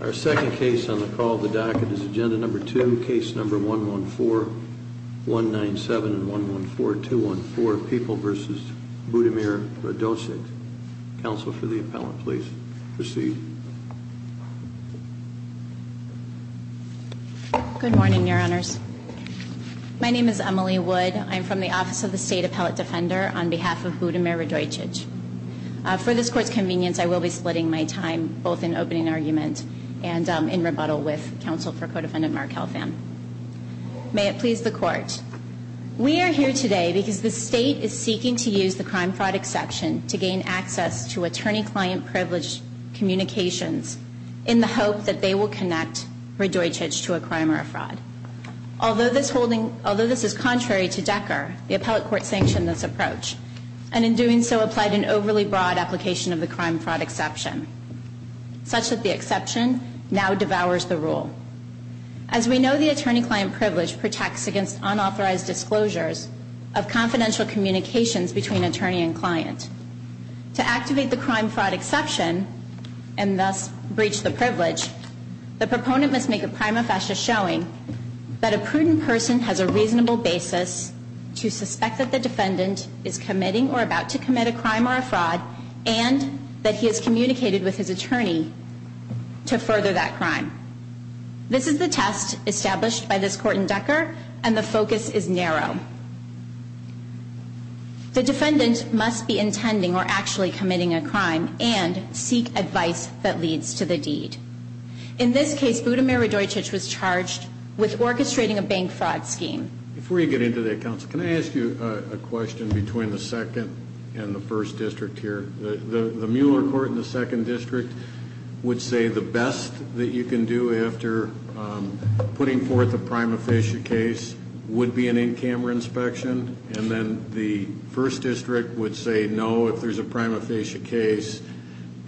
Our second case on the call of the docket is agenda number two, case number 114-197 and 114-214, People v. Hudimir Radojcic. Counsel for the appellant, please proceed. Good morning, your honors. My name is Emily Wood. I'm from the Office of the State Appellate Defender on behalf of Hudimir Radojcic. For this court's convenience, I will be splitting my time both in opening argument and in rebuttal with counsel for co-defendant Mark Helfand. May it please the court. We are here today because the state is seeking to use the crime-fraud exception to gain access to attorney-client privileged communications in the hope that they will connect Radojcic to a crime or a fraud. Although this is contrary to DECCR, the appellate court sanctioned this approach, and in doing so applied an overly broad application of the crime-fraud exception, such that the exception now devours the rule. As we know, the attorney-client privilege protects against unauthorized disclosures of confidential communications between attorney and client. To activate the crime-fraud exception, and thus breach the privilege, the proponent must make a prima facie showing that a prudent person has a reasonable basis to suspect that the defendant is committing or about to commit a crime or a fraud, and that he has communicated with his attorney to further that crime. This is the test established by this court in DECCR, and the focus is narrow. The defendant must be intending or actually committing a crime and seek advice that leads to the deed. In this case, Budimir Radojcic was charged with orchestrating a bank fraud scheme. Before you get into that, counsel, can I ask you a question between the second and the first district here? The Mueller court in the second district would say the best that you can do after putting forth a prima facie case would be an in-camera inspection. And then the first district would say no if there's a prima facie case,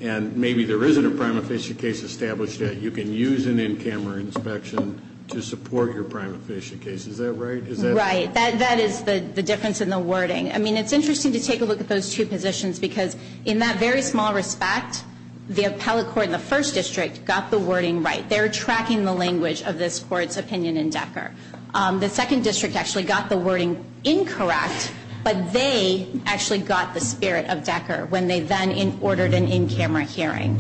and maybe there isn't a prima facie case established yet. You can use an in-camera inspection to support your prima facie case. Is that right? Right. That is the difference in the wording. I mean, it's interesting to take a look at those two positions, because in that very small respect, the appellate court in the first district got the wording right. They're tracking the language of this court's opinion in DECCR. The second district actually got the wording incorrect, but they actually got the spirit of DECCR when they then ordered an in-camera hearing.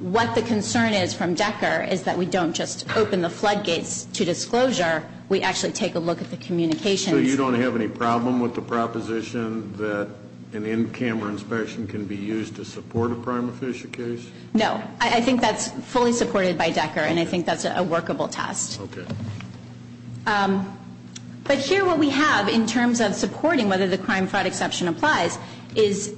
What the concern is from DECCR is that we don't just open the floodgates to disclosure. We actually take a look at the communications. So you don't have any problem with the proposition that an in-camera inspection can be used to support a prima facie case? No. I think that's fully supported by DECCR, and I think that's a workable test. Okay. But here what we have in terms of supporting whether the crime-fraud exception applies is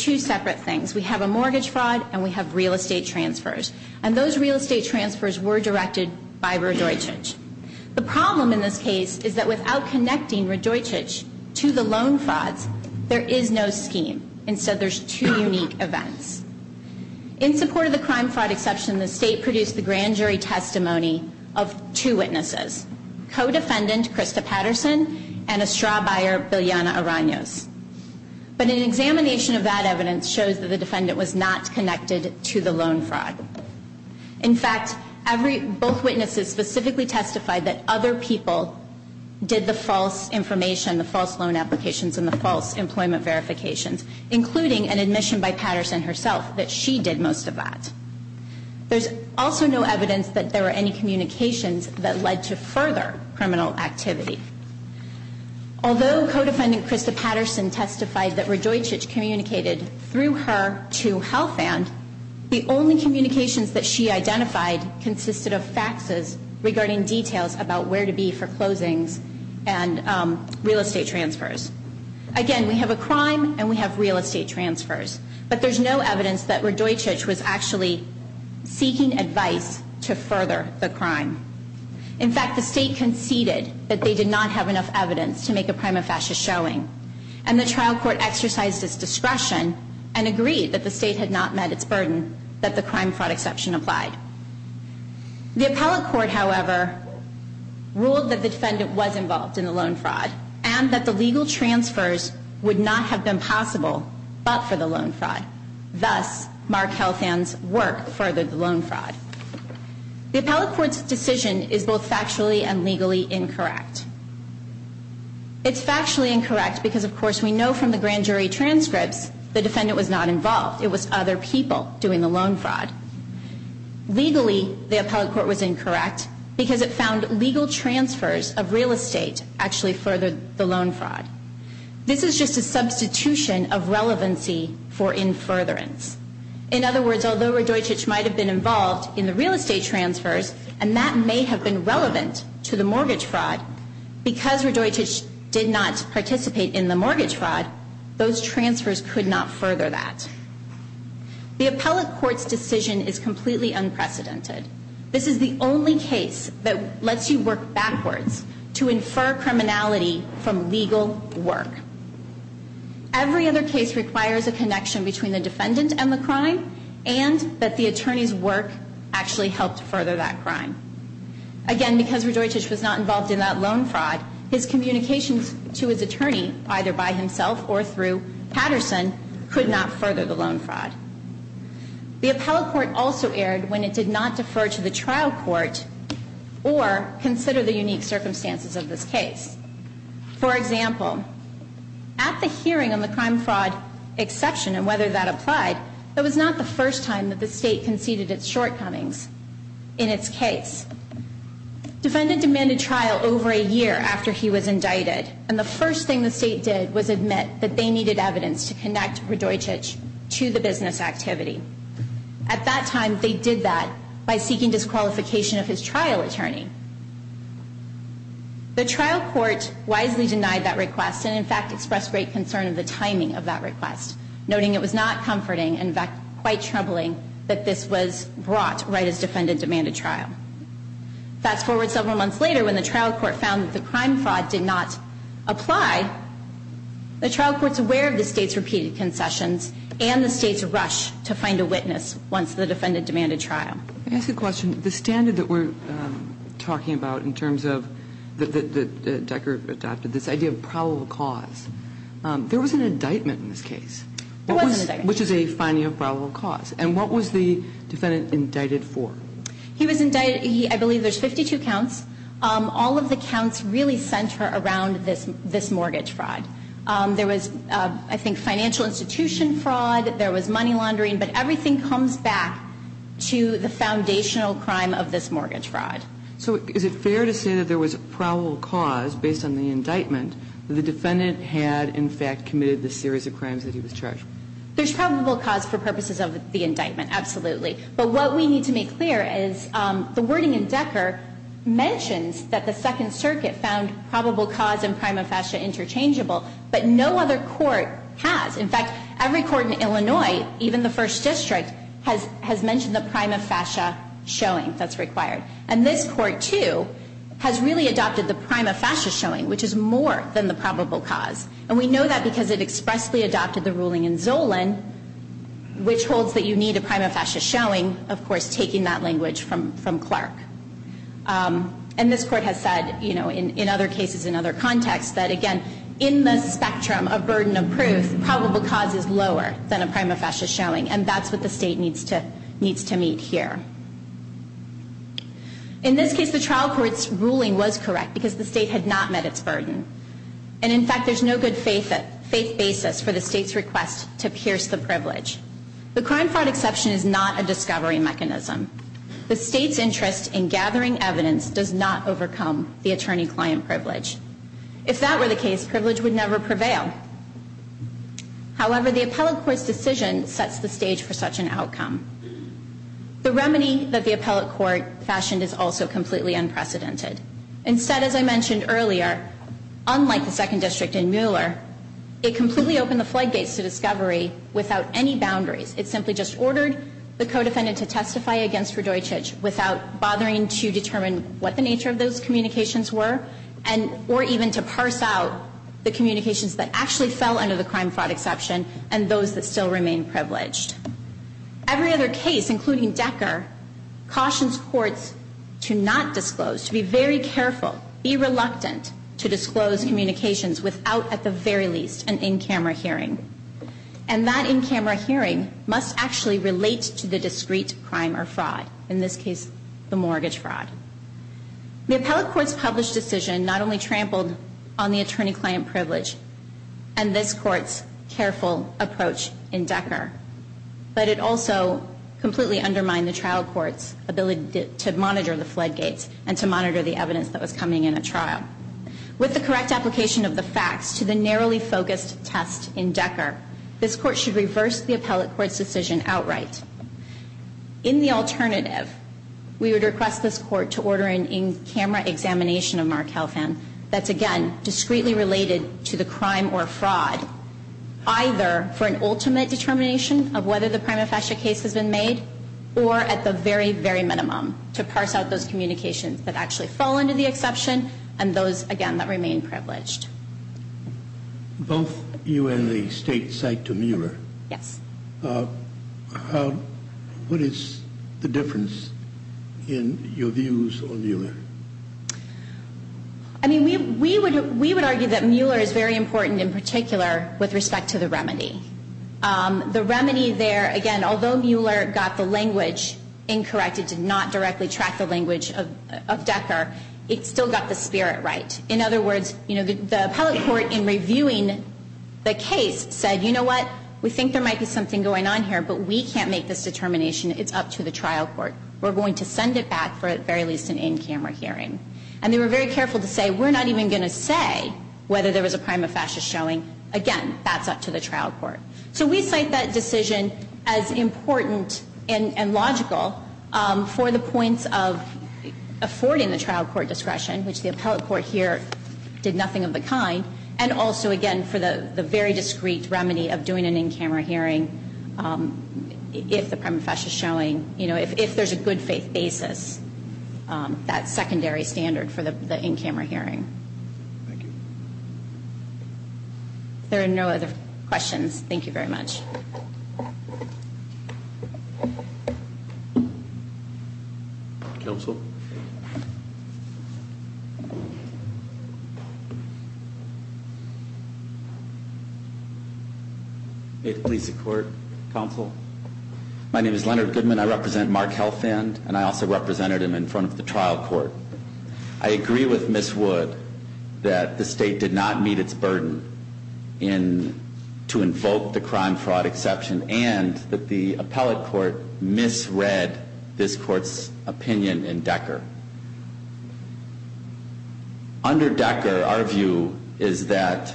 two separate things. We have a mortgage fraud, and we have real estate transfers. And those real estate transfers were directed by Radojcic. The problem in this case is that without connecting Radojcic to the loan frauds, there is no scheme. Instead, there's two unique events. In support of the crime-fraud exception, the State produced the grand jury testimony of two witnesses, co-defendant Krista Patterson and a straw buyer, Bilyana Aranios. But an examination of that evidence shows that the defendant was not connected to the loan fraud. In fact, both witnesses specifically testified that other people did the false information, the false loan applications, and the false employment verifications, including an admission by Patterson herself that she did most of that. There's also no evidence that there were any communications that led to further criminal activity. Although co-defendant Krista Patterson testified that Radojcic communicated through her to HealthAnd, the only communications that she identified consisted of faxes regarding details about where to be for closings and real estate transfers. Again, we have a crime, and we have real estate transfers. But there's no evidence that Radojcic was actually seeking advice to further the crime. In fact, the State conceded that they did not have enough evidence to make a crime of fascist showing, and the trial court exercised its discretion and agreed that the State had not met its burden that the crime-fraud exception applied. The appellate court, however, ruled that the defendant was involved in the loan fraud and that the legal transfers would not have been possible but for the loan fraud. Thus, Mark HealthAnd's work furthered the loan fraud. The appellate court's decision is both factually and legally incorrect. It's factually incorrect because, of course, we know from the grand jury transcripts the defendant was not involved. It was other people doing the loan fraud. Legally, the appellate court was incorrect because it found legal transfers of real estate actually furthered the loan fraud. This is just a substitution of relevancy for in furtherance. In other words, although Radojcic might have been involved in the real estate transfers and that may have been relevant to the mortgage fraud, because Radojcic did not participate in the mortgage fraud, those transfers could not further that. The appellate court's decision is completely unprecedented. This is the only case that lets you work backwards to infer criminality from legal work. Every other case requires a connection between the defendant and the crime and that the attorney's work actually helped further that crime. Again, because Radojcic was not involved in that loan fraud, his communications to his attorney, either by himself or through Patterson, could not further the loan fraud. The appellate court also erred when it did not defer to the trial court or consider the unique circumstances of this case. For example, at the hearing on the crime fraud exception and whether that applied, that was not the first time that the state conceded its shortcomings in its case. The defendant demanded trial over a year after he was indicted and the first thing the state did was admit that they needed evidence to connect Radojcic to the business activity. At that time, they did that by seeking disqualification of his trial attorney. The trial court wisely denied that request and, in fact, expressed great concern of the timing of that request, noting it was not comforting and, in fact, quite troubling that this was brought right as defendant demanded trial. Fast forward several months later when the trial court found that the crime fraud did not apply, the trial court's aware of the state's repeated concessions and the state's rush to find a witness once the defendant demanded trial. I ask a question. The standard that we're talking about in terms of that Decker adopted, this idea of probable cause, there was an indictment in this case. There was an indictment. Which is a finding of probable cause. And what was the defendant indicted for? He was indicted. I believe there's 52 counts. All of the counts really center around this mortgage fraud. There was, I think, financial institution fraud. There was money laundering. But everything comes back to the foundational crime of this mortgage fraud. So is it fair to say that there was probable cause based on the indictment that the defendant had, in fact, committed the series of crimes that he was charged with? There's probable cause for purposes of the indictment, absolutely. But what we need to make clear is the wording in Decker mentions that the Second Circuit found probable cause and prima facie interchangeable. But no other court has. In fact, every court in Illinois, even the First District, has mentioned the prima facie showing that's required. And this Court, too, has really adopted the prima facie showing, which is more than the probable cause. And we know that because it expressly adopted the ruling in Zolan, which holds that you need a prima facie showing, of course, taking that language from Clark. And this Court has said, you know, in other cases, in other contexts, that, again, in the spectrum of burden of proof, probable cause is lower than a prima facie showing. And that's what the State needs to meet here. In this case, the trial court's ruling was correct because the State had not met its burden. And, in fact, there's no good faith basis for the State's request to pierce the privilege. The crime fraud exception is not a discovery mechanism. The State's interest in gathering evidence does not overcome the attorney-client privilege. If that were the case, privilege would never prevail. However, the appellate court's decision sets the stage for such an outcome. The remedy that the appellate court fashioned is also completely unprecedented. Instead, as I mentioned earlier, unlike the Second District in Mueller, it completely opened the floodgates to discovery without any boundaries. It simply just ordered the co-defendant to testify against Radojcic without bothering to determine what the nature of those communications were. Or even to parse out the communications that actually fell under the crime fraud exception and those that still remain privileged. Every other case, including Decker, cautions courts to not disclose, to be very careful, be reluctant to disclose communications without, at the very least, an in-camera hearing. And that in-camera hearing must actually relate to the discrete crime or fraud. In this case, the mortgage fraud. The appellate court's published decision not only trampled on the attorney-client privilege and this court's careful approach in Decker, but it also completely undermined the trial court's ability to monitor the floodgates and to monitor the evidence that was coming in a trial. With the correct application of the facts to the narrowly focused test in Decker, this court should reverse the appellate court's decision outright. In the alternative, we would request this court to order an in-camera examination of Mark Helfand that's, again, discreetly related to the crime or fraud, either for an ultimate determination of whether the prima facie case has been made or at the very, very minimum to parse out those communications that actually fall under the exception and those, again, that remain privileged. Both you and the State cite to Mueller. Yes. What is the difference in your views on Mueller? I mean, we would argue that Mueller is very important in particular with respect to the remedy. The remedy there, again, although Mueller got the language incorrect, it did not directly track the language of Decker, it still got the spirit right. In other words, you know, the appellate court in reviewing the case said, you know what, we think there might be something going on here, but we can't make this determination. It's up to the trial court. We're going to send it back for at very least an in-camera hearing. And they were very careful to say, we're not even going to say whether there was a prima facie showing. Again, that's up to the trial court. So we cite that decision as important and logical for the points of affording the case to Mueller. It did nothing of the kind. And also, again, for the very discreet remedy of doing an in-camera hearing if the prima facie is showing, you know, if there's a good faith basis, that secondary standard for the in-camera hearing. Thank you. If there are no other questions, thank you very much. Thank you very much. Counsel. May it please the court. Counsel. My name is Leonard Goodman. I represent Mark Helfand, and I also represented him in front of the trial court. I agree with Ms. Wood that the state did not meet its burden to invoke the crime fraud exception and that the appellate court misread this court's opinion in Decker. Under Decker, our view is that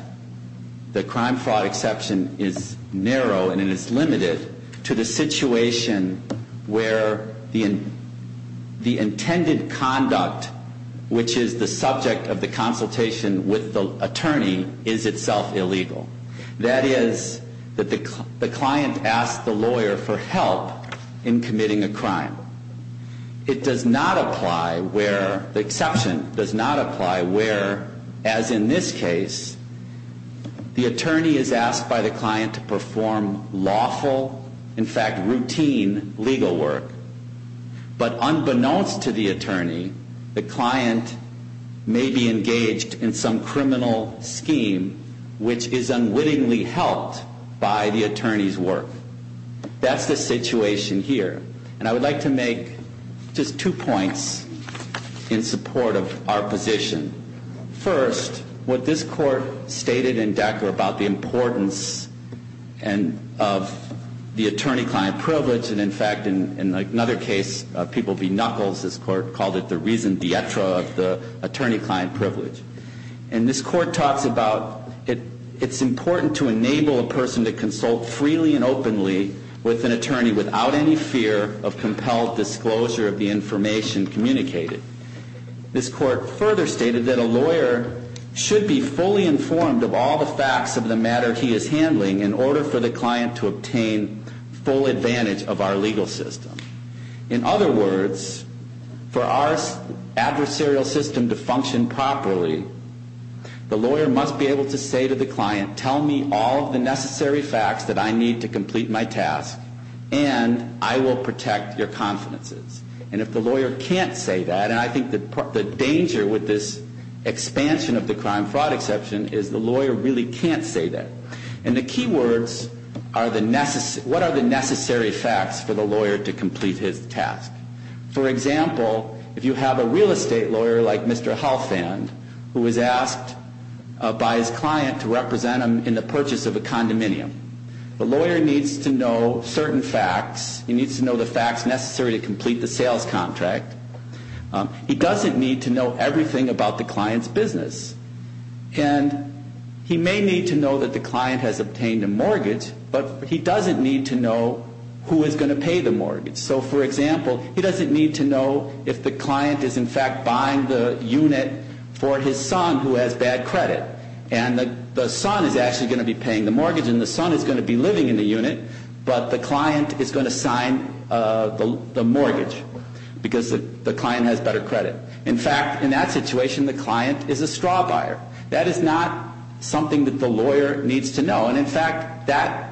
the crime fraud exception is narrow and it is a situation where the intended conduct, which is the subject of the consultation with the attorney, is itself illegal. That is, that the client asks the lawyer for help in committing a crime. It does not apply where the exception does not apply where, as in this case, the client has had routine legal work. But unbeknownst to the attorney, the client may be engaged in some criminal scheme which is unwittingly helped by the attorney's work. That's the situation here. And I would like to make just two points in support of our position. First, what this court stated in Decker about the importance of the attorney-client privilege, and in fact, in another case, People v. Knuckles, this court called it the reason dietro of the attorney-client privilege. And this court talks about it's important to enable a person to consult freely and openly with an attorney without any fear of compelled disclosure of the information communicated. This court further stated that a lawyer should be fully informed of all the facts of the matter he is handling in order for the client to obtain full advantage of our legal system. In other words, for our adversarial system to function properly, the lawyer must be able to say to the client, tell me all of the necessary facts that I need to complete my task, and I will protect your confidences. And if the lawyer can't say that, and I think the danger with this expansion of the crime-fraud exception is the lawyer really can't say that. And the key words are the necessary facts for the lawyer to complete his task. For example, if you have a real estate lawyer like Mr. Halfand, who is asked by his client to represent him in the purchase of a condominium, the lawyer needs to know certain facts. He needs to know the facts necessary to complete the sales contract. He doesn't need to know everything about the client's business. And he may need to know that the client has obtained a mortgage, but he doesn't need to know who is going to pay the mortgage. So, for example, he doesn't need to know if the client is, in fact, buying the unit for his son who has bad credit. And the son is actually going to be paying the mortgage, and the son is going to be paying the mortgage, and the client is going to sign the mortgage because the client has better credit. In fact, in that situation, the client is a straw buyer. That is not something that the lawyer needs to know. And, in fact, that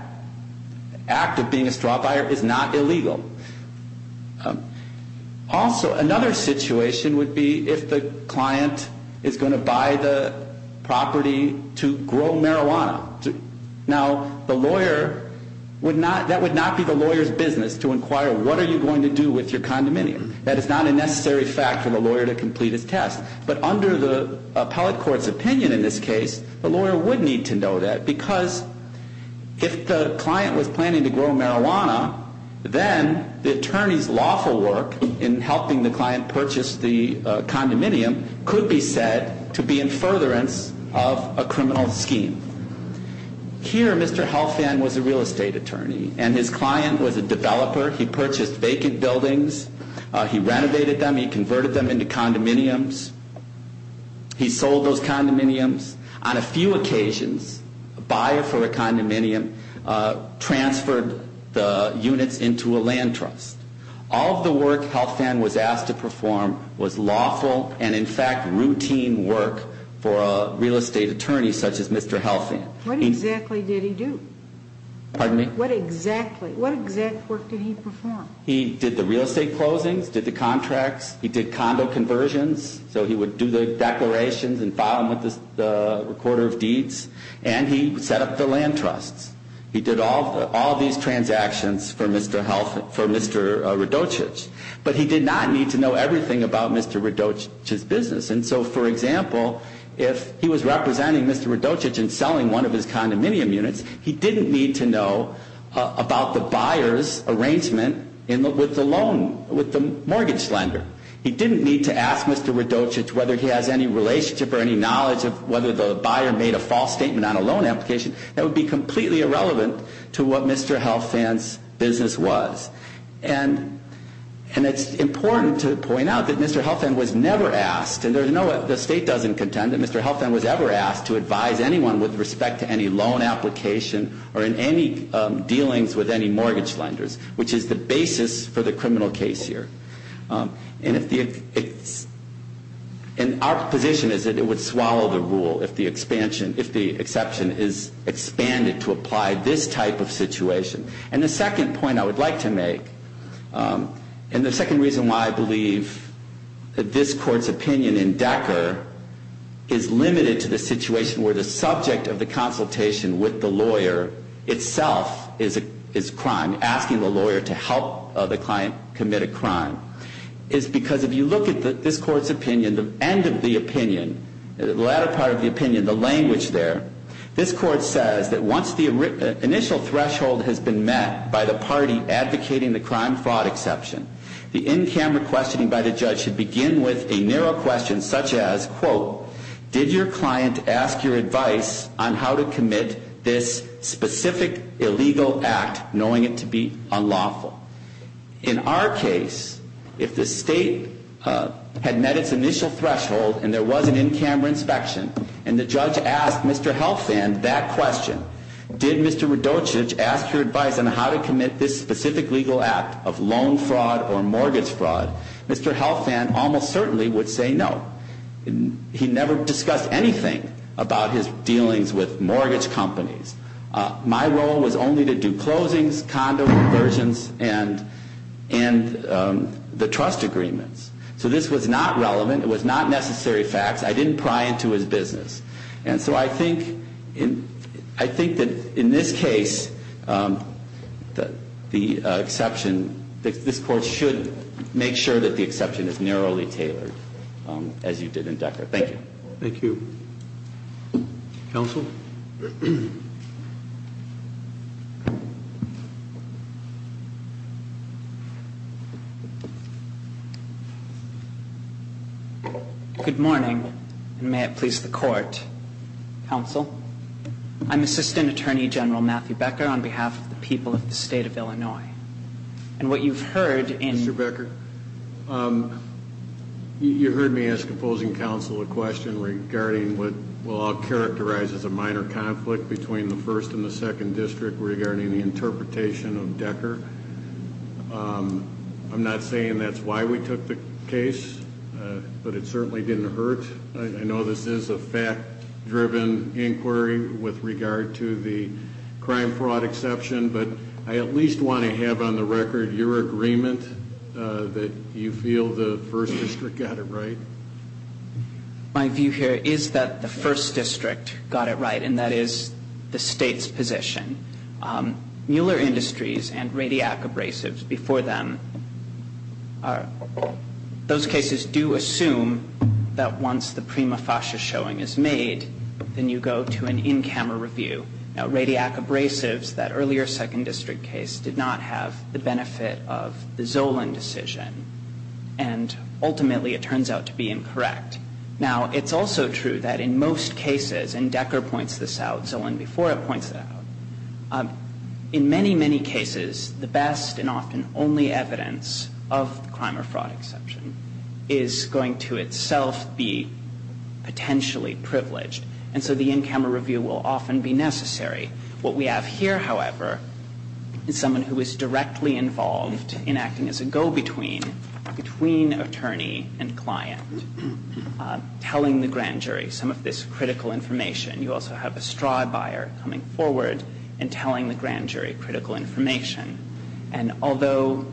act of being a straw buyer is not illegal. Also, another situation would be if the client is going to buy the property to grow marijuana. Now, that would not be the lawyer's business to inquire, what are you going to do with your condominium? That is not a necessary fact for the lawyer to complete his test. But under the appellate court's opinion in this case, the lawyer would need to know that because if the client was planning to grow marijuana, then the attorney's lawful work in helping the client purchase the condominium could be said to be in furtherance of a Here, Mr. Helfand was a real estate attorney, and his client was a developer. He purchased vacant buildings. He renovated them. He converted them into condominiums. He sold those condominiums. On a few occasions, a buyer for a condominium transferred the units into a land trust. All of the work Helfand was asked to perform was lawful and, in fact, routine work for a real estate attorney such as Mr. Helfand. What exactly did he do? Pardon me? What exactly? What exact work did he perform? He did the real estate closings, did the contracts. He did condo conversions. So he would do the declarations and file them with the recorder of deeds. And he set up the land trusts. He did all of these transactions for Mr. Helfand, for Mr. Radochich. But he did not need to know everything about Mr. Radochich's business. And so, for example, if he was representing Mr. Radochich and selling one of his condominium units, he didn't need to know about the buyer's arrangement with the mortgage lender. He didn't need to ask Mr. Radochich whether he has any relationship or any knowledge of whether the buyer made a false statement on a loan application. That would be completely irrelevant to what Mr. Helfand's business was. And it's important to point out that Mr. Helfand was never asked, and the state doesn't contend, that Mr. Helfand was ever asked to advise anyone with respect to any loan application or in any dealings with any mortgage lenders, which is the basis for the criminal case here. And our position is that it would swallow the rule if the exception is expanded to apply this type of situation. And the second point I would like to make, and the second reason why I believe that this court's opinion in Decker is limited to the situation where the subject of the consultation with the lawyer itself is crime, asking the lawyer to help the client commit a crime, is because if you look at this court's opinion, the end of the opinion, the latter part of the opinion, the language there, this court says that once the initial threshold has been met by the party advocating the crime-fraud exception, the in-camera questioning by the judge should begin with a narrow question such as, quote, did your client ask your advice on how to commit this specific illegal act knowing it to be unlawful? In our case, if the state had met its initial threshold and there was an in-camera inspection and the judge asked Mr. Helfand that question, did Mr. Radochich ask your advice on how to commit this specific legal act of loan fraud or mortgage fraud, Mr. Helfand almost certainly would say no. He never discussed anything about his dealings with mortgage companies. My role was only to do closings, condo conversions, and the trust agreements. So this was not relevant. It was not necessary facts. I didn't pry into his business. And so I think that in this case, the exception, this court should make sure that the exception is narrowly tailored as you did in Decker. Thank you. Thank you. Counsel? Good morning, and may it please the court. Counsel, I'm Assistant Attorney General Matthew Becker on behalf of the people of the state of Illinois. And what you've heard in Mr. Becker, you heard me ask opposing counsel a question regarding what I'll characterize as a minor case. Minor conflict between the 1st and the 2nd District regarding the interpretation of Decker. I'm not saying that's why we took the case, but it certainly didn't hurt. I know this is a fact-driven inquiry with regard to the crime fraud exception, but I at least want to have on the record your agreement that you feel the 1st District got it right. My view here is that the 1st District got it right, and that is the State's position. Mueller Industries and Radiac Abrasives before them, those cases do assume that once the prima facie showing is made, then you go to an in-camera review. Now, Radiac Abrasives, that earlier 2nd District case, did not have the benefit of the Zolan decision. And ultimately, it turns out to be incorrect. Now, it's also true that in most cases, and Decker points this out, Zolan before it points it out, in many, many cases, the best and often only evidence of crime or fraud exception is going to itself be potentially privileged. And so the in-camera review will often be necessary. What we have here, however, is someone who is directly involved in acting as a go-between, between attorney and client, telling the grand jury some of this critical information. You also have a straw buyer coming forward and telling the grand jury critical information. And although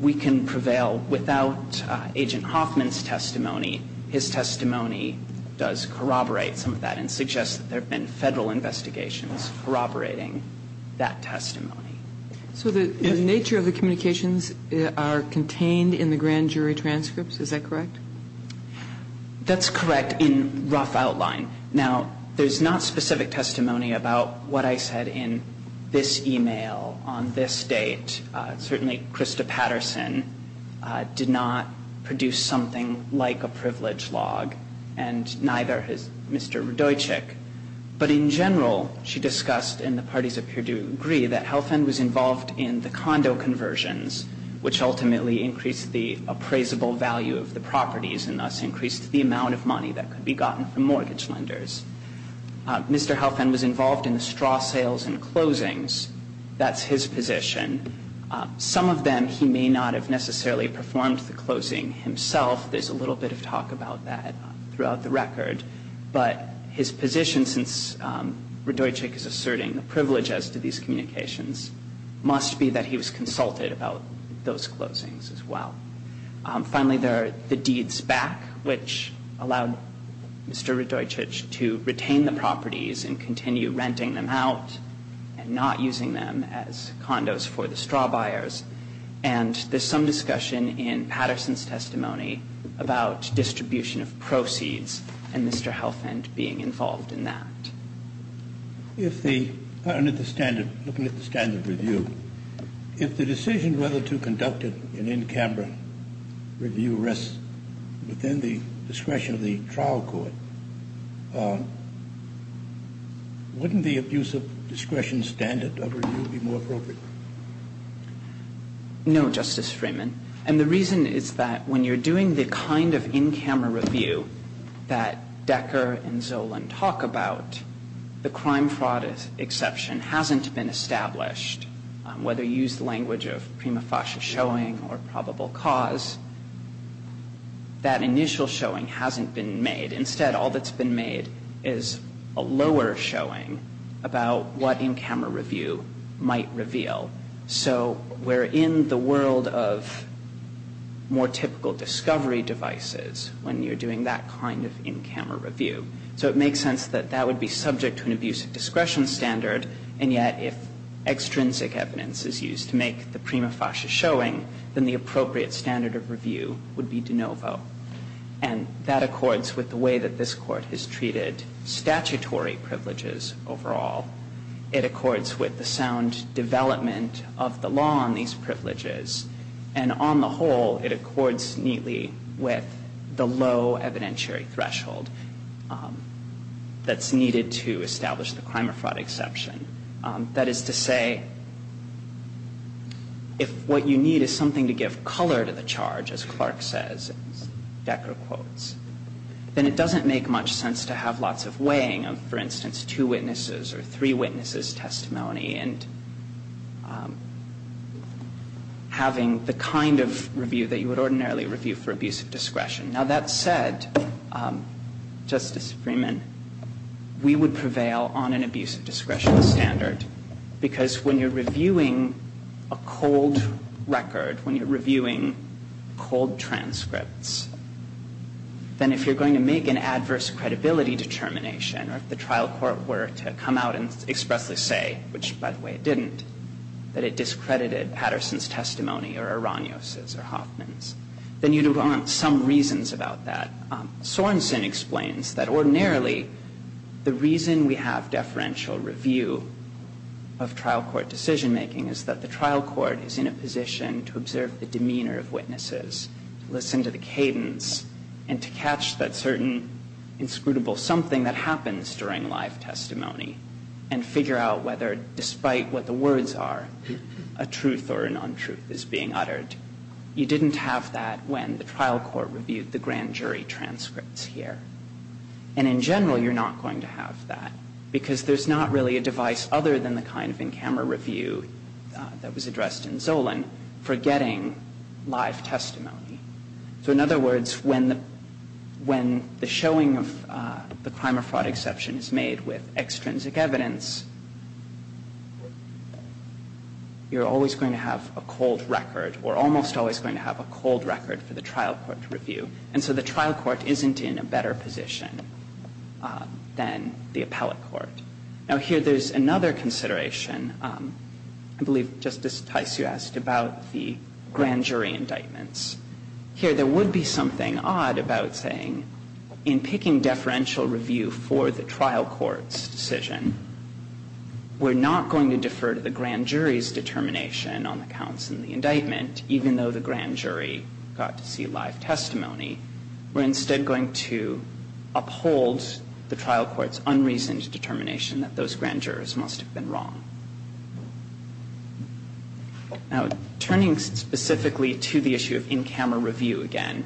we can prevail without Agent Hoffman's testimony, his testimony does corroborate some of that and suggests that there have been Federal investigations corroborating that testimony. So the nature of the communications are contained in the grand jury transcripts, is that correct? That's correct in rough outline. Now, there's not specific testimony about what I said in this e-mail on this date. Certainly Krista Patterson did not produce something like a privilege log, and neither has Mr. Radojcik. But in general, she discussed in the parties of Purdue agree that Helfand was involved in the condo conversions, which ultimately increased the appraisable value of the properties and thus increased the amount of money that could be gotten from mortgage lenders. Mr. Helfand was involved in the straw sales and closings. That's his position. Some of them he may not have necessarily performed the closing himself. There's a little bit of talk about that throughout the record. But his position, since Radojcik is asserting the privilege as to these communications, must be that he was consulted about those closings as well. Finally, there are the deeds back, which allowed Mr. Radojcik to retain the properties and continue renting them out and not using them as condos for the straw buyers. And there's some discussion in Patterson's testimony about distribution of proceeds and Mr. Helfand being involved in that. If the standard, looking at the standard review, if the decision whether to conduct an in-camera review within the discretion of the trial court, wouldn't the abuse of discretion standard review be more appropriate? No, Justice Freeman. And the reason is that when you're doing the kind of in-camera review that Decker and Zolan talk about, the crime-fraud exception hasn't been established, whether you use the language of prima facie showing or probable cause. That initial showing hasn't been made. Instead, all that's been made is a lower showing about what in-camera review might reveal. So we're in the world of more typical discovery devices when you're doing that kind of in-camera review. So it makes sense that that would be subject to an abuse of discretion standard. And yet, if extrinsic evidence is used to make the prima facie showing, then the appropriate standard of review would be de novo. And that accords with the way that this Court has treated statutory privileges overall. It accords with the sound development of the law on these privileges. And on the whole, it accords neatly with the low evidentiary threshold that's needed to establish the crime-or-fraud exception. That is to say, if what you need is something to give color to the charge, as Clark says, as Decker quotes, then it doesn't make much sense to have lots of weighing of, for instance, two witnesses or three witnesses' testimony and having the kind of review that you would ordinarily review for abuse of discretion. Now, that said, Justice Freeman, we would prevail on an abuse of discretion standard because when you're reviewing a cold record, when you're reviewing cold transcripts, then if you're going to make an adverse credibility determination or if the trial court were to come out and expressly say, which, by the way, it didn't, that it discredited Patterson's testimony or Aranios's or Hoffman's, then you'd want some reasons about that. Sorensen explains that ordinarily the reason we have deferential review of trial court decision-making is that the trial court is in a position to observe the demeanor of witnesses, listen to the cadence, and to catch that certain inscrutable something that happens during live testimony and figure out whether, despite what the words are, a truth or a nontruth is being uttered. You didn't have that when the trial court reviewed the grand jury transcripts here. And in general, you're not going to have that because there's not really a device other than the kind of in-camera review that was addressed in Zolan for getting live testimony. So in other words, when the showing of the crime or fraud exception is made with the trial court, you're always going to have a cold record or almost always going to have a cold record for the trial court to review. And so the trial court isn't in a better position than the appellate court. Now, here there's another consideration. I believe Justice Tysio asked about the grand jury indictments. Here there would be something odd about saying in picking deferential review for the grand jury's determination on the counts in the indictment, even though the grand jury got to see live testimony. We're instead going to uphold the trial court's unreasoned determination that those grand jurors must have been wrong. Now, turning specifically to the issue of in-camera review again,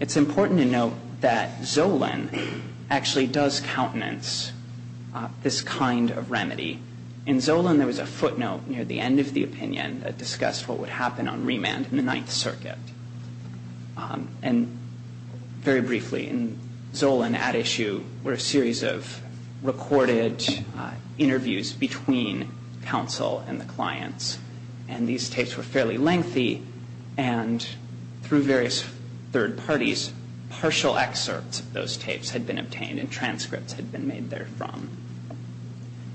it's important to note that Zolan actually does countenance this kind of remedy. In Zolan, there was a footnote near the end of the opinion that discussed what would happen on remand in the Ninth Circuit. And very briefly, in Zolan at issue were a series of recorded interviews between counsel and the clients. And these tapes were fairly lengthy. And through various third parties, partial excerpts of those tapes had been obtained and transcripts had been made therefrom.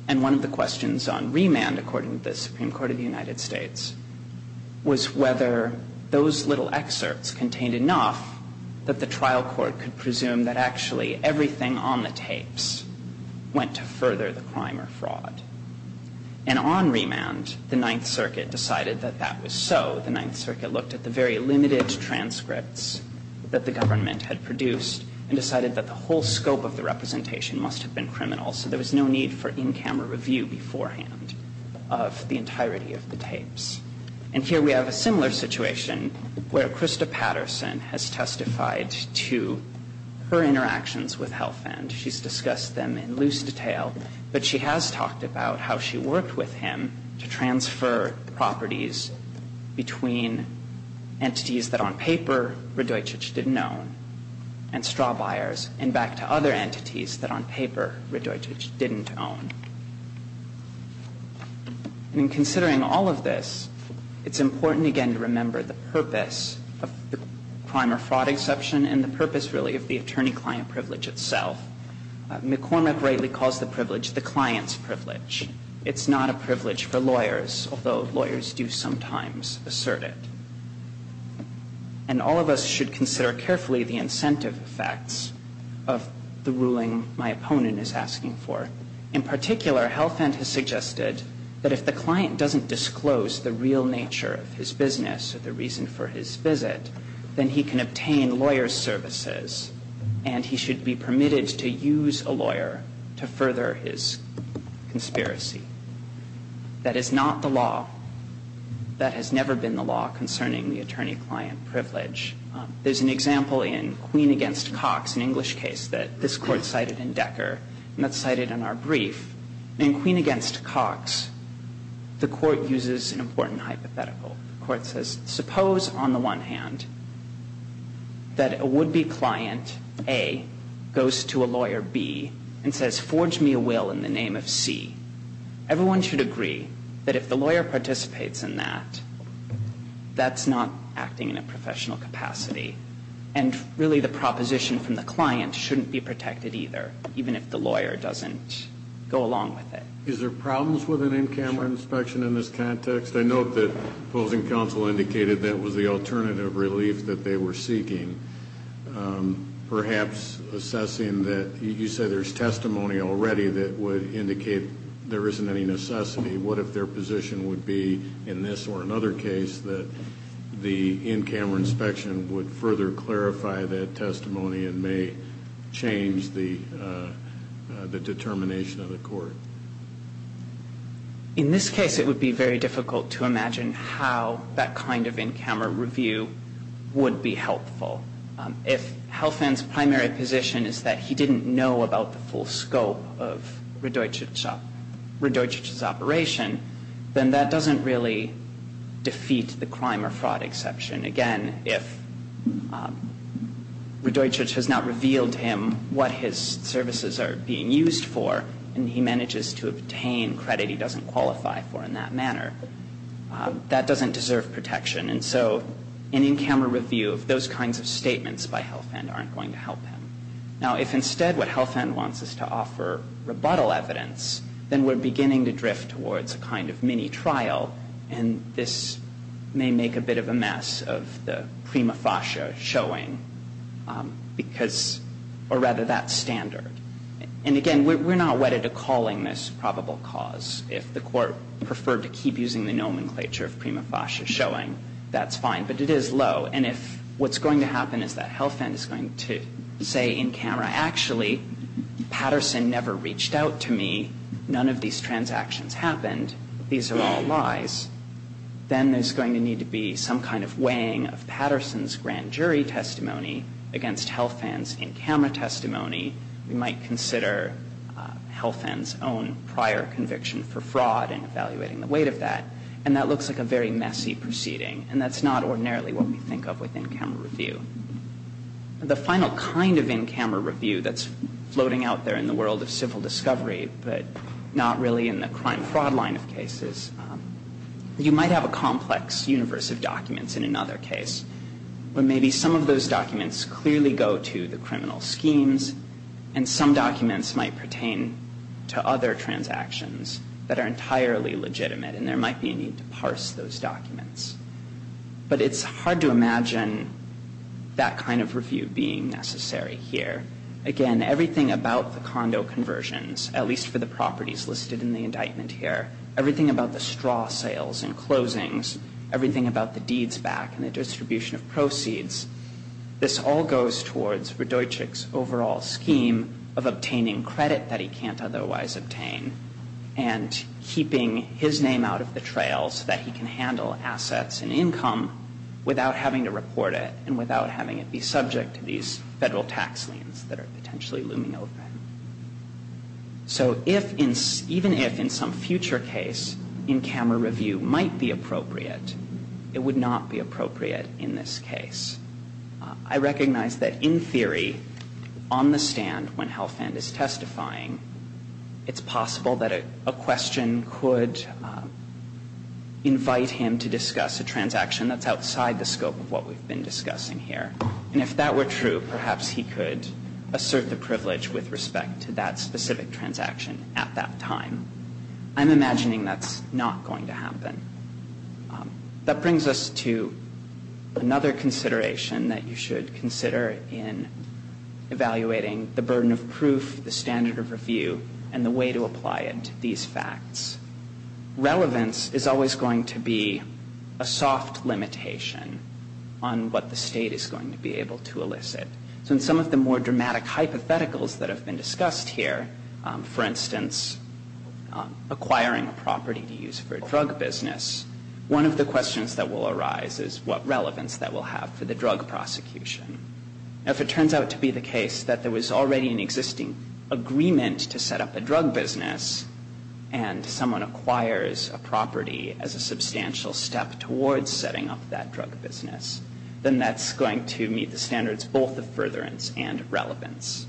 And one of the questions on remand, according to the Supreme Court of the United States, was whether those little excerpts contained enough that the trial court could presume that actually everything on the tapes went to further the crime or fraud. And on remand, the Ninth Circuit decided that that was so. The Ninth Circuit looked at the very limited transcripts that the government had produced and decided that the whole scope of the representation must have been So there was no need for in-camera review beforehand of the entirety of the tapes. And here we have a similar situation where Krista Patterson has testified to her interactions with Health End. She's discussed them in loose detail. But she has talked about how she worked with him to transfer properties between entities that on paper Radojcic didn't own and straw buyers and back to other entities that on paper Radojcic didn't own. And in considering all of this, it's important again to remember the purpose of the crime or fraud exception and the purpose really of the attorney-client privilege itself. McCormick rightly calls the privilege the client's privilege. It's not a privilege for lawyers, although lawyers do sometimes assert it. And all of us should consider carefully the incentive effects of the ruling my opponent is asking for. In particular, Health End has suggested that if the client doesn't disclose the real nature of his business or the reason for his visit, then he can obtain lawyer's services and he should be permitted to use a lawyer to further his conspiracy. That is not the law. That has never been the law concerning the attorney-client privilege. There's an example in Queen v. Cox, an English case that this Court cited in Decker and that's cited in our brief. In Queen v. Cox, the Court uses an important hypothetical. The Court says, suppose on the one hand that a would-be client, A, goes to a lawyer, B, and says, forge me a will in the name of C. Everyone should agree that if the lawyer participates in that, that's not acting in a professional capacity. And really the proposition from the client shouldn't be protected either, even if the lawyer doesn't go along with it. Is there problems with an in-camera inspection in this context? I note that opposing counsel indicated that was the alternative relief that they were seeking, perhaps assessing that you said there's testimony already that would be helpful. If there isn't any necessity, what if their position would be in this or another case that the in-camera inspection would further clarify that testimony and may change the determination of the Court? In this case, it would be very difficult to imagine how that kind of in-camera review would be helpful. If Helfand's primary position is that he didn't know about the full scope of Radojic's operation, then that doesn't really defeat the crime or fraud exception. Again, if Radojic has not revealed to him what his services are being used for and he manages to obtain credit he doesn't qualify for in that manner, that doesn't deserve protection. And so an in-camera review of those kinds of statements by Helfand aren't going to help him. Now, if instead what Helfand wants is to offer rebuttal evidence, then we're beginning to drift towards a kind of mini-trial, and this may make a bit of a mess of the prima facie showing because or rather that standard. And again, we're not wedded to calling this probable cause. If the Court preferred to keep using the nomenclature of prima facie showing, that's fine. But it is low. And if what's going to happen is that Helfand is going to say in-camera, actually, Patterson never reached out to me, none of these transactions happened, these are all lies, then there's going to need to be some kind of weighing of Patterson's grand jury testimony against Helfand's in-camera testimony. We might consider Helfand's own prior conviction for fraud and evaluating the weight of that. And that looks like a very messy proceeding, and that's not ordinarily what we think of with in-camera review. The final kind of in-camera review that's floating out there in the world of civil discovery, but not really in the crime-fraud line of cases, you might have a complex universe of documents in another case. But maybe some of those documents clearly go to the criminal schemes, and some documents might pertain to other transactions that are entirely legitimate, and there might be a need to parse those documents. But it's hard to imagine that kind of review being necessary here. Again, everything about the condo conversions, at least for the properties listed in the indictment here, everything about the straw sales and closings, everything about the deeds back and the distribution of proceeds, this all goes towards Radojcik's overall scheme of obtaining credit that he can't otherwise obtain and keeping his name out of the trail so that he can handle assets and income without having to report it and without having it be subject to these federal tax liens that are potentially looming over him. So even if in some future case, in-camera review might be appropriate, it would not be appropriate in this case. I recognize that in theory, on the stand, when Halfand is testifying, it's possible that a question could invite him to discuss a transaction that's outside the scope of what we've been discussing here. And if that were true, perhaps he could assert the privilege with respect to that specific transaction at that time. I'm imagining that's not going to happen. That brings us to another consideration that you should consider in evaluating the burden of proof, the standard of review, and the way to apply it to these facts. Relevance is always going to be a soft limitation on what the State is going to be able to elicit. So in some of the more dramatic hypotheticals that have been discussed here, for instance, acquiring a property to use for a drug business, one of the questions that will arise is what relevance that will have for the drug prosecution. If it turns out to be the case that there was already an existing agreement to set up a drug business and someone acquires a property as a substantial step towards setting up that drug business, then that's going to meet the standards both of furtherance and relevance.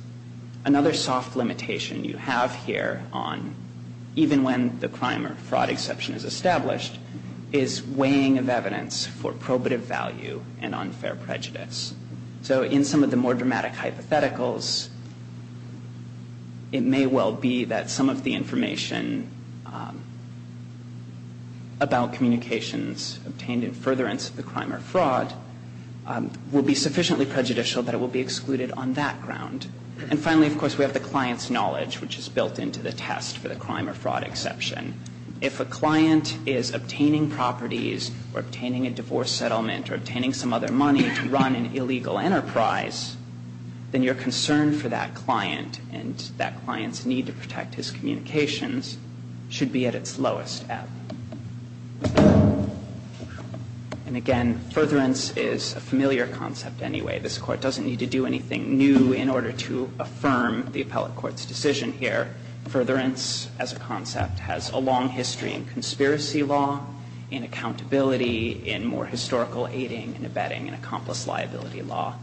Another soft limitation you have here on, even when the crime or fraud exception is established, is weighing of evidence for probative value and unfair prejudice. So in some of the more dramatic hypotheticals, it may well be that some of the information about communications obtained in furtherance of the crime or fraud will be sufficiently prejudicial that it will be excluded on that ground. And finally, of course, we have the client's knowledge, which is built into the test for the crime or fraud exception. If a client is obtaining properties or obtaining a divorce settlement or obtaining some other money to run an illegal enterprise, then your concern for that client and that client's need to protect his communications should be at its lowest ebb. And again, furtherance is a familiar concept anyway. This Court doesn't need to do anything new in order to affirm the appellate court's decision here. Furtherance as a concept has a long history in conspiracy law, in accountability, in more historical aiding and abetting and accomplice liability law.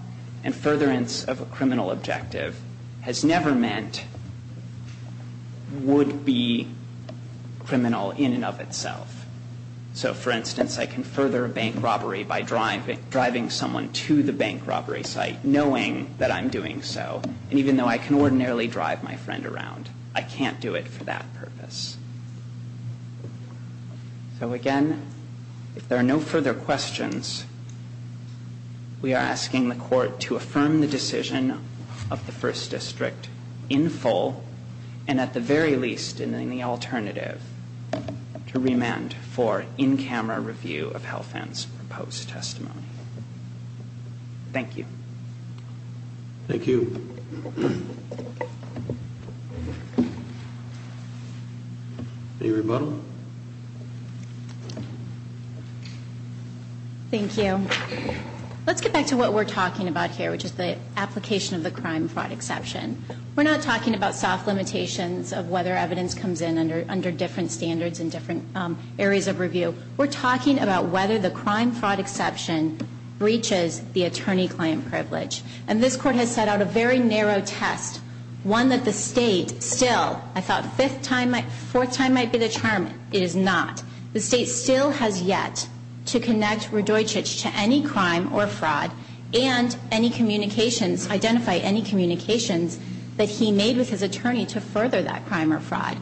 And furtherance of a criminal objective has never meant would be criminal in and of itself. So, for instance, I can further a bank robbery by driving someone to the bank robbery site knowing that I'm doing so, and even though I can ordinarily drive my friend around, I can't do it for that purpose. So, again, if there are no further questions, we are asking the Court to affirm the decision of the First District in full, and at the very least, in the alternative to remand for in-camera review of Helfand's proposed testimony. Thank you. Thank you. Any rebuttal? Thank you. Let's get back to what we're talking about here, which is the application of the crime-fraud exception. We're not talking about soft limitations of whether evidence comes in under different standards and different areas of review. We're talking about whether the crime-fraud exception breaches the attorney-client privilege. And this Court has set out a very narrow test, one that the State still, I thought fourth time might be the charm. It is not. The State still has yet to connect Radojcic to any crime or fraud and any communications, identify any communications that he made with his attorney to further that crime or fraud.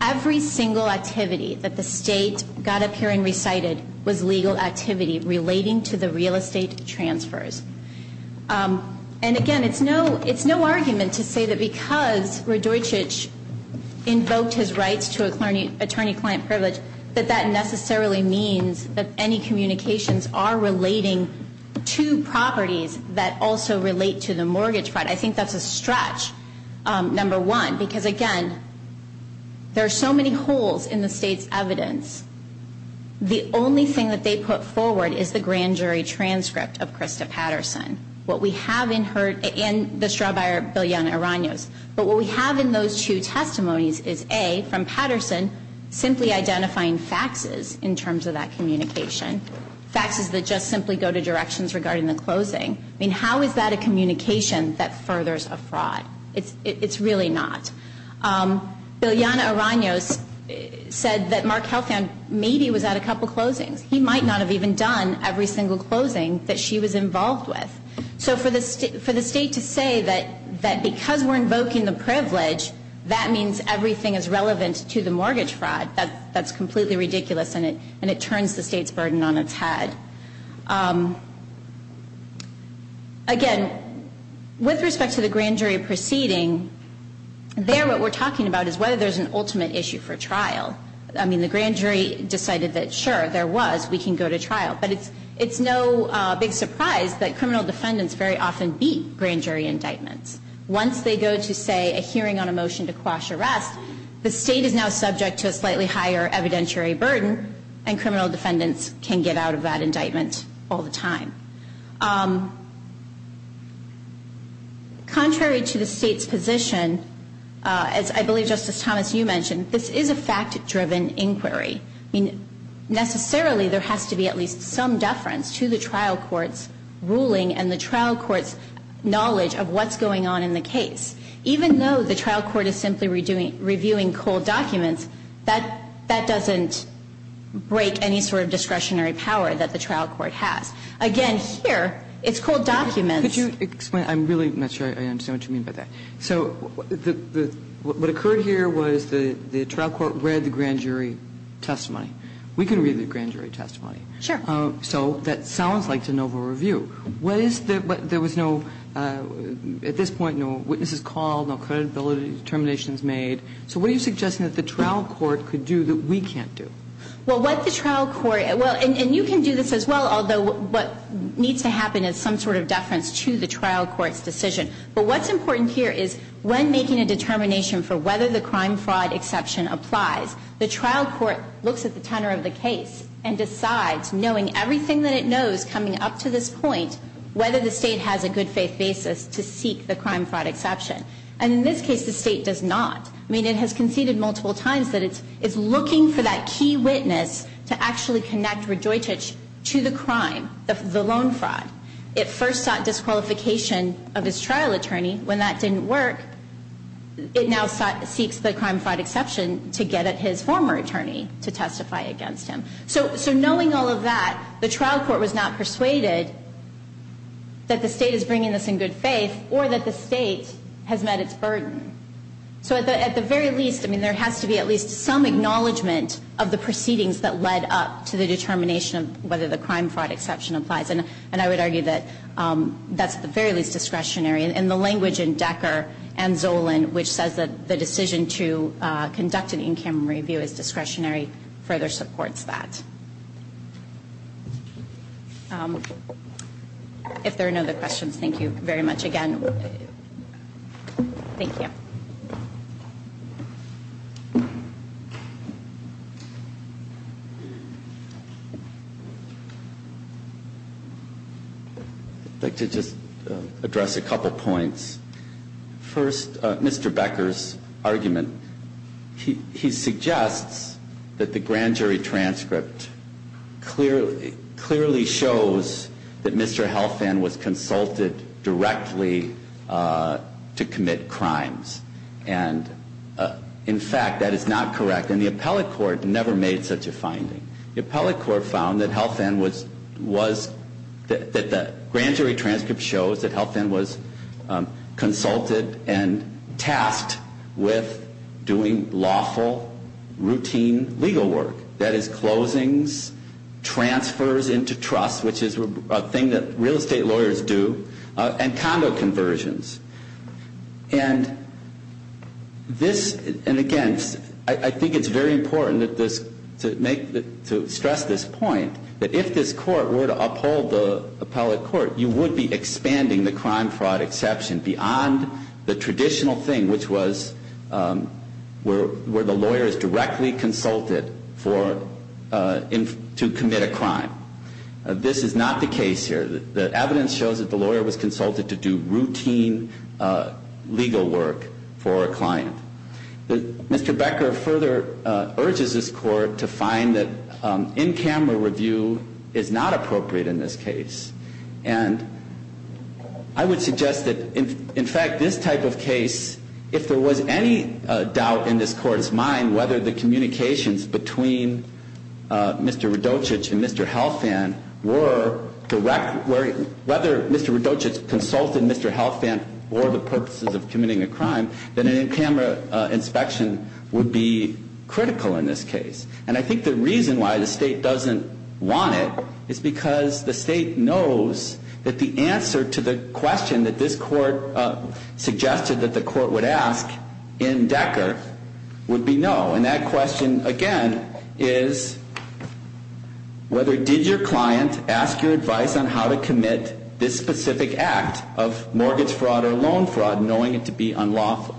Every single activity that the State got up here and recited was legal activity relating to the real estate transfers. And again, it's no argument to say that because Radojcic invoked his rights to attorney-client privilege, that that necessarily means that any communications are relating to properties that also relate to the mortgage fraud. I think that's a stretch, number one, because again, there are so many holes in the State's evidence. The only thing that they put forward is the grand jury transcript of Krista Patterson, what we have in her, and the straw buyer, Bilyana Aranios. But what we have in those two testimonies is A, from Patterson, simply identifying faxes in terms of that communication, faxes that just simply go to directions regarding the closing. I mean, how is that a communication that furthers a fraud? It's really not. Bilyana Aranios said that Mark Helfand maybe was at a couple closings. He might not have even done every single closing that she was involved with. So for the State to say that because we're invoking the privilege, that means everything is relevant to the mortgage fraud, that's completely ridiculous and it turns the State's burden on its head. Again, with respect to the grand jury proceeding, there what we're talking about is whether there's an ultimate issue for trial. I mean, the grand jury decided that sure, there was, we can go to trial. But it's no big surprise that criminal defendants very often beat grand jury indictments. Once they go to, say, a hearing on a motion to quash arrest, the State is now subject to a slightly higher evidentiary burden and criminal defendants can get out of that indictment all the time. Contrary to the State's position, as I believe Justice Thomas, you mentioned, this is a fact-driven inquiry. I mean, necessarily there has to be at least some deference to the trial court's ruling and the trial court's knowledge of what's going on in the case. Even though the trial court is simply reviewing cold documents, that doesn't break any sort of discretionary power that the trial court has. Again, here, it's cold documents. Kagan, could you explain? I'm really not sure I understand what you mean by that. So what occurred here was the trial court read the grand jury testimony. We can read the grand jury testimony. Sure. So that sounds like de novo review. What is the, there was no, at this point, no witnesses called, no credibility determinations made. So what are you suggesting that the trial court could do that we can't do? Well, what the trial court, and you can do this as well, although what needs to happen is some sort of deference to the trial court's decision. But what's important here is when making a determination for whether the crime fraud exception applies, the trial court looks at the tenor of the case and decides, knowing everything that it knows coming up to this point, whether the State has a good faith basis to seek the crime fraud exception. And in this case, the State does not. I mean, it has conceded multiple times that it's looking for that key witness to actually connect Rejoicech to the crime, the loan fraud. It first sought disqualification of his trial attorney. When that didn't work, it now seeks the crime fraud exception to get at his former attorney to testify against him. So knowing all of that, the trial court was not persuaded that the State is bringing this in good faith or that the State has met its burden. So at the very least, I mean, there has to be at least some acknowledgement of the proceedings that led up to the determination of whether the crime fraud exception applies. And I would argue that that's at the very least discretionary. And the language in Decker and Zolan, which says that the decision to conduct an in-camera review is discretionary, further supports that. If there are no other questions, thank you very much again. Thank you. Thank you. I'd like to just address a couple points. First, Mr. Becker's argument. He suggests that the grand jury transcript clearly shows that Mr. And in fact, that is not correct. And the appellate court never made such a finding. The appellate court found that Health End was, that the grand jury transcript shows that Health End was consulted and tasked with doing lawful, routine legal work. That is, closings, transfers into trust, which is a thing that real estate lawyers do, and condo conversions. And this, and again, I think it's very important to stress this point, that if this court were to uphold the appellate court, you would be expanding the crime fraud exception beyond the traditional thing, which was where the lawyer is directly consulted to commit a crime. This is not the case here. The evidence shows that the lawyer was consulted to do routine legal work for a client. Mr. Becker further urges this court to find that in-camera review is not appropriate in this case. And I would suggest that, in fact, this type of case, if there was any doubt in this court's mind whether the communications between Mr. Radochich and Mr. Health End or the purposes of committing a crime, that an in-camera inspection would be critical in this case. And I think the reason why the state doesn't want it is because the state knows that the answer to the question that this court suggested that the court would ask in Decker would be no. And that question, again, is whether did your client ask your advice on how to commit this specific act of mortgage fraud or loan fraud, knowing it to be unlawful.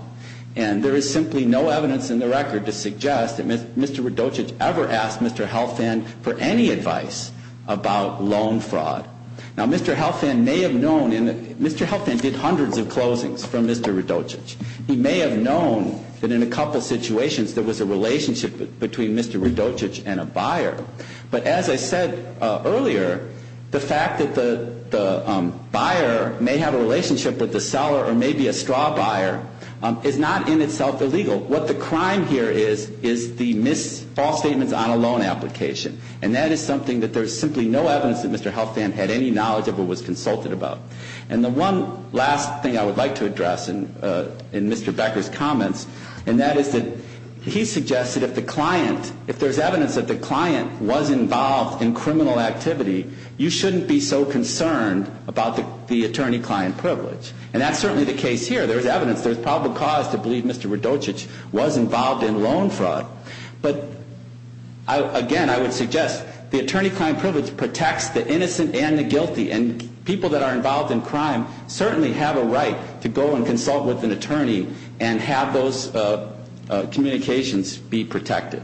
And there is simply no evidence in the record to suggest that Mr. Radochich ever asked Mr. Health End for any advice about loan fraud. Now, Mr. Health End may have known, and Mr. Health End did hundreds of closings from Mr. Radochich. He may have known that in a couple situations there was a relationship between Mr. Radochich and a buyer. But as I said earlier, the fact that the buyer may have a relationship with the seller or may be a straw buyer is not in itself illegal. What the crime here is, is the missed false statements on a loan application. And that is something that there is simply no evidence that Mr. Health End had any knowledge of or was consulted about. And the one last thing I would like to address in Mr. Becker's comments, and that is that he suggested if there's evidence that the client was involved in criminal activity, you shouldn't be so concerned about the attorney-client privilege. And that's certainly the case here. There's evidence. There's probable cause to believe Mr. Radochich was involved in loan fraud. But again, I would suggest the attorney-client privilege protects the innocent and the guilty. And people that are involved in crime certainly have a right to go and consult with an attorney and have those communications be protected.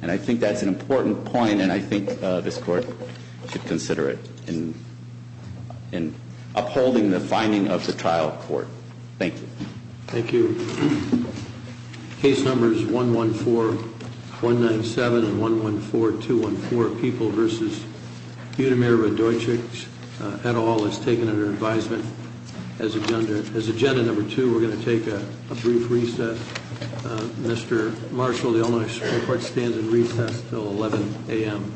And I think that's an important point. And I think this Court should consider it in upholding the finding of the trial court. Thank you. Thank you. Case numbers 114-197 and 114-214, People v. Budimir-Radochich, et al. is taken under advisement as agenda number two. We're going to take a brief recess. Mr. Marshall, the Ombudsman Court stands in recess until 11 a.m.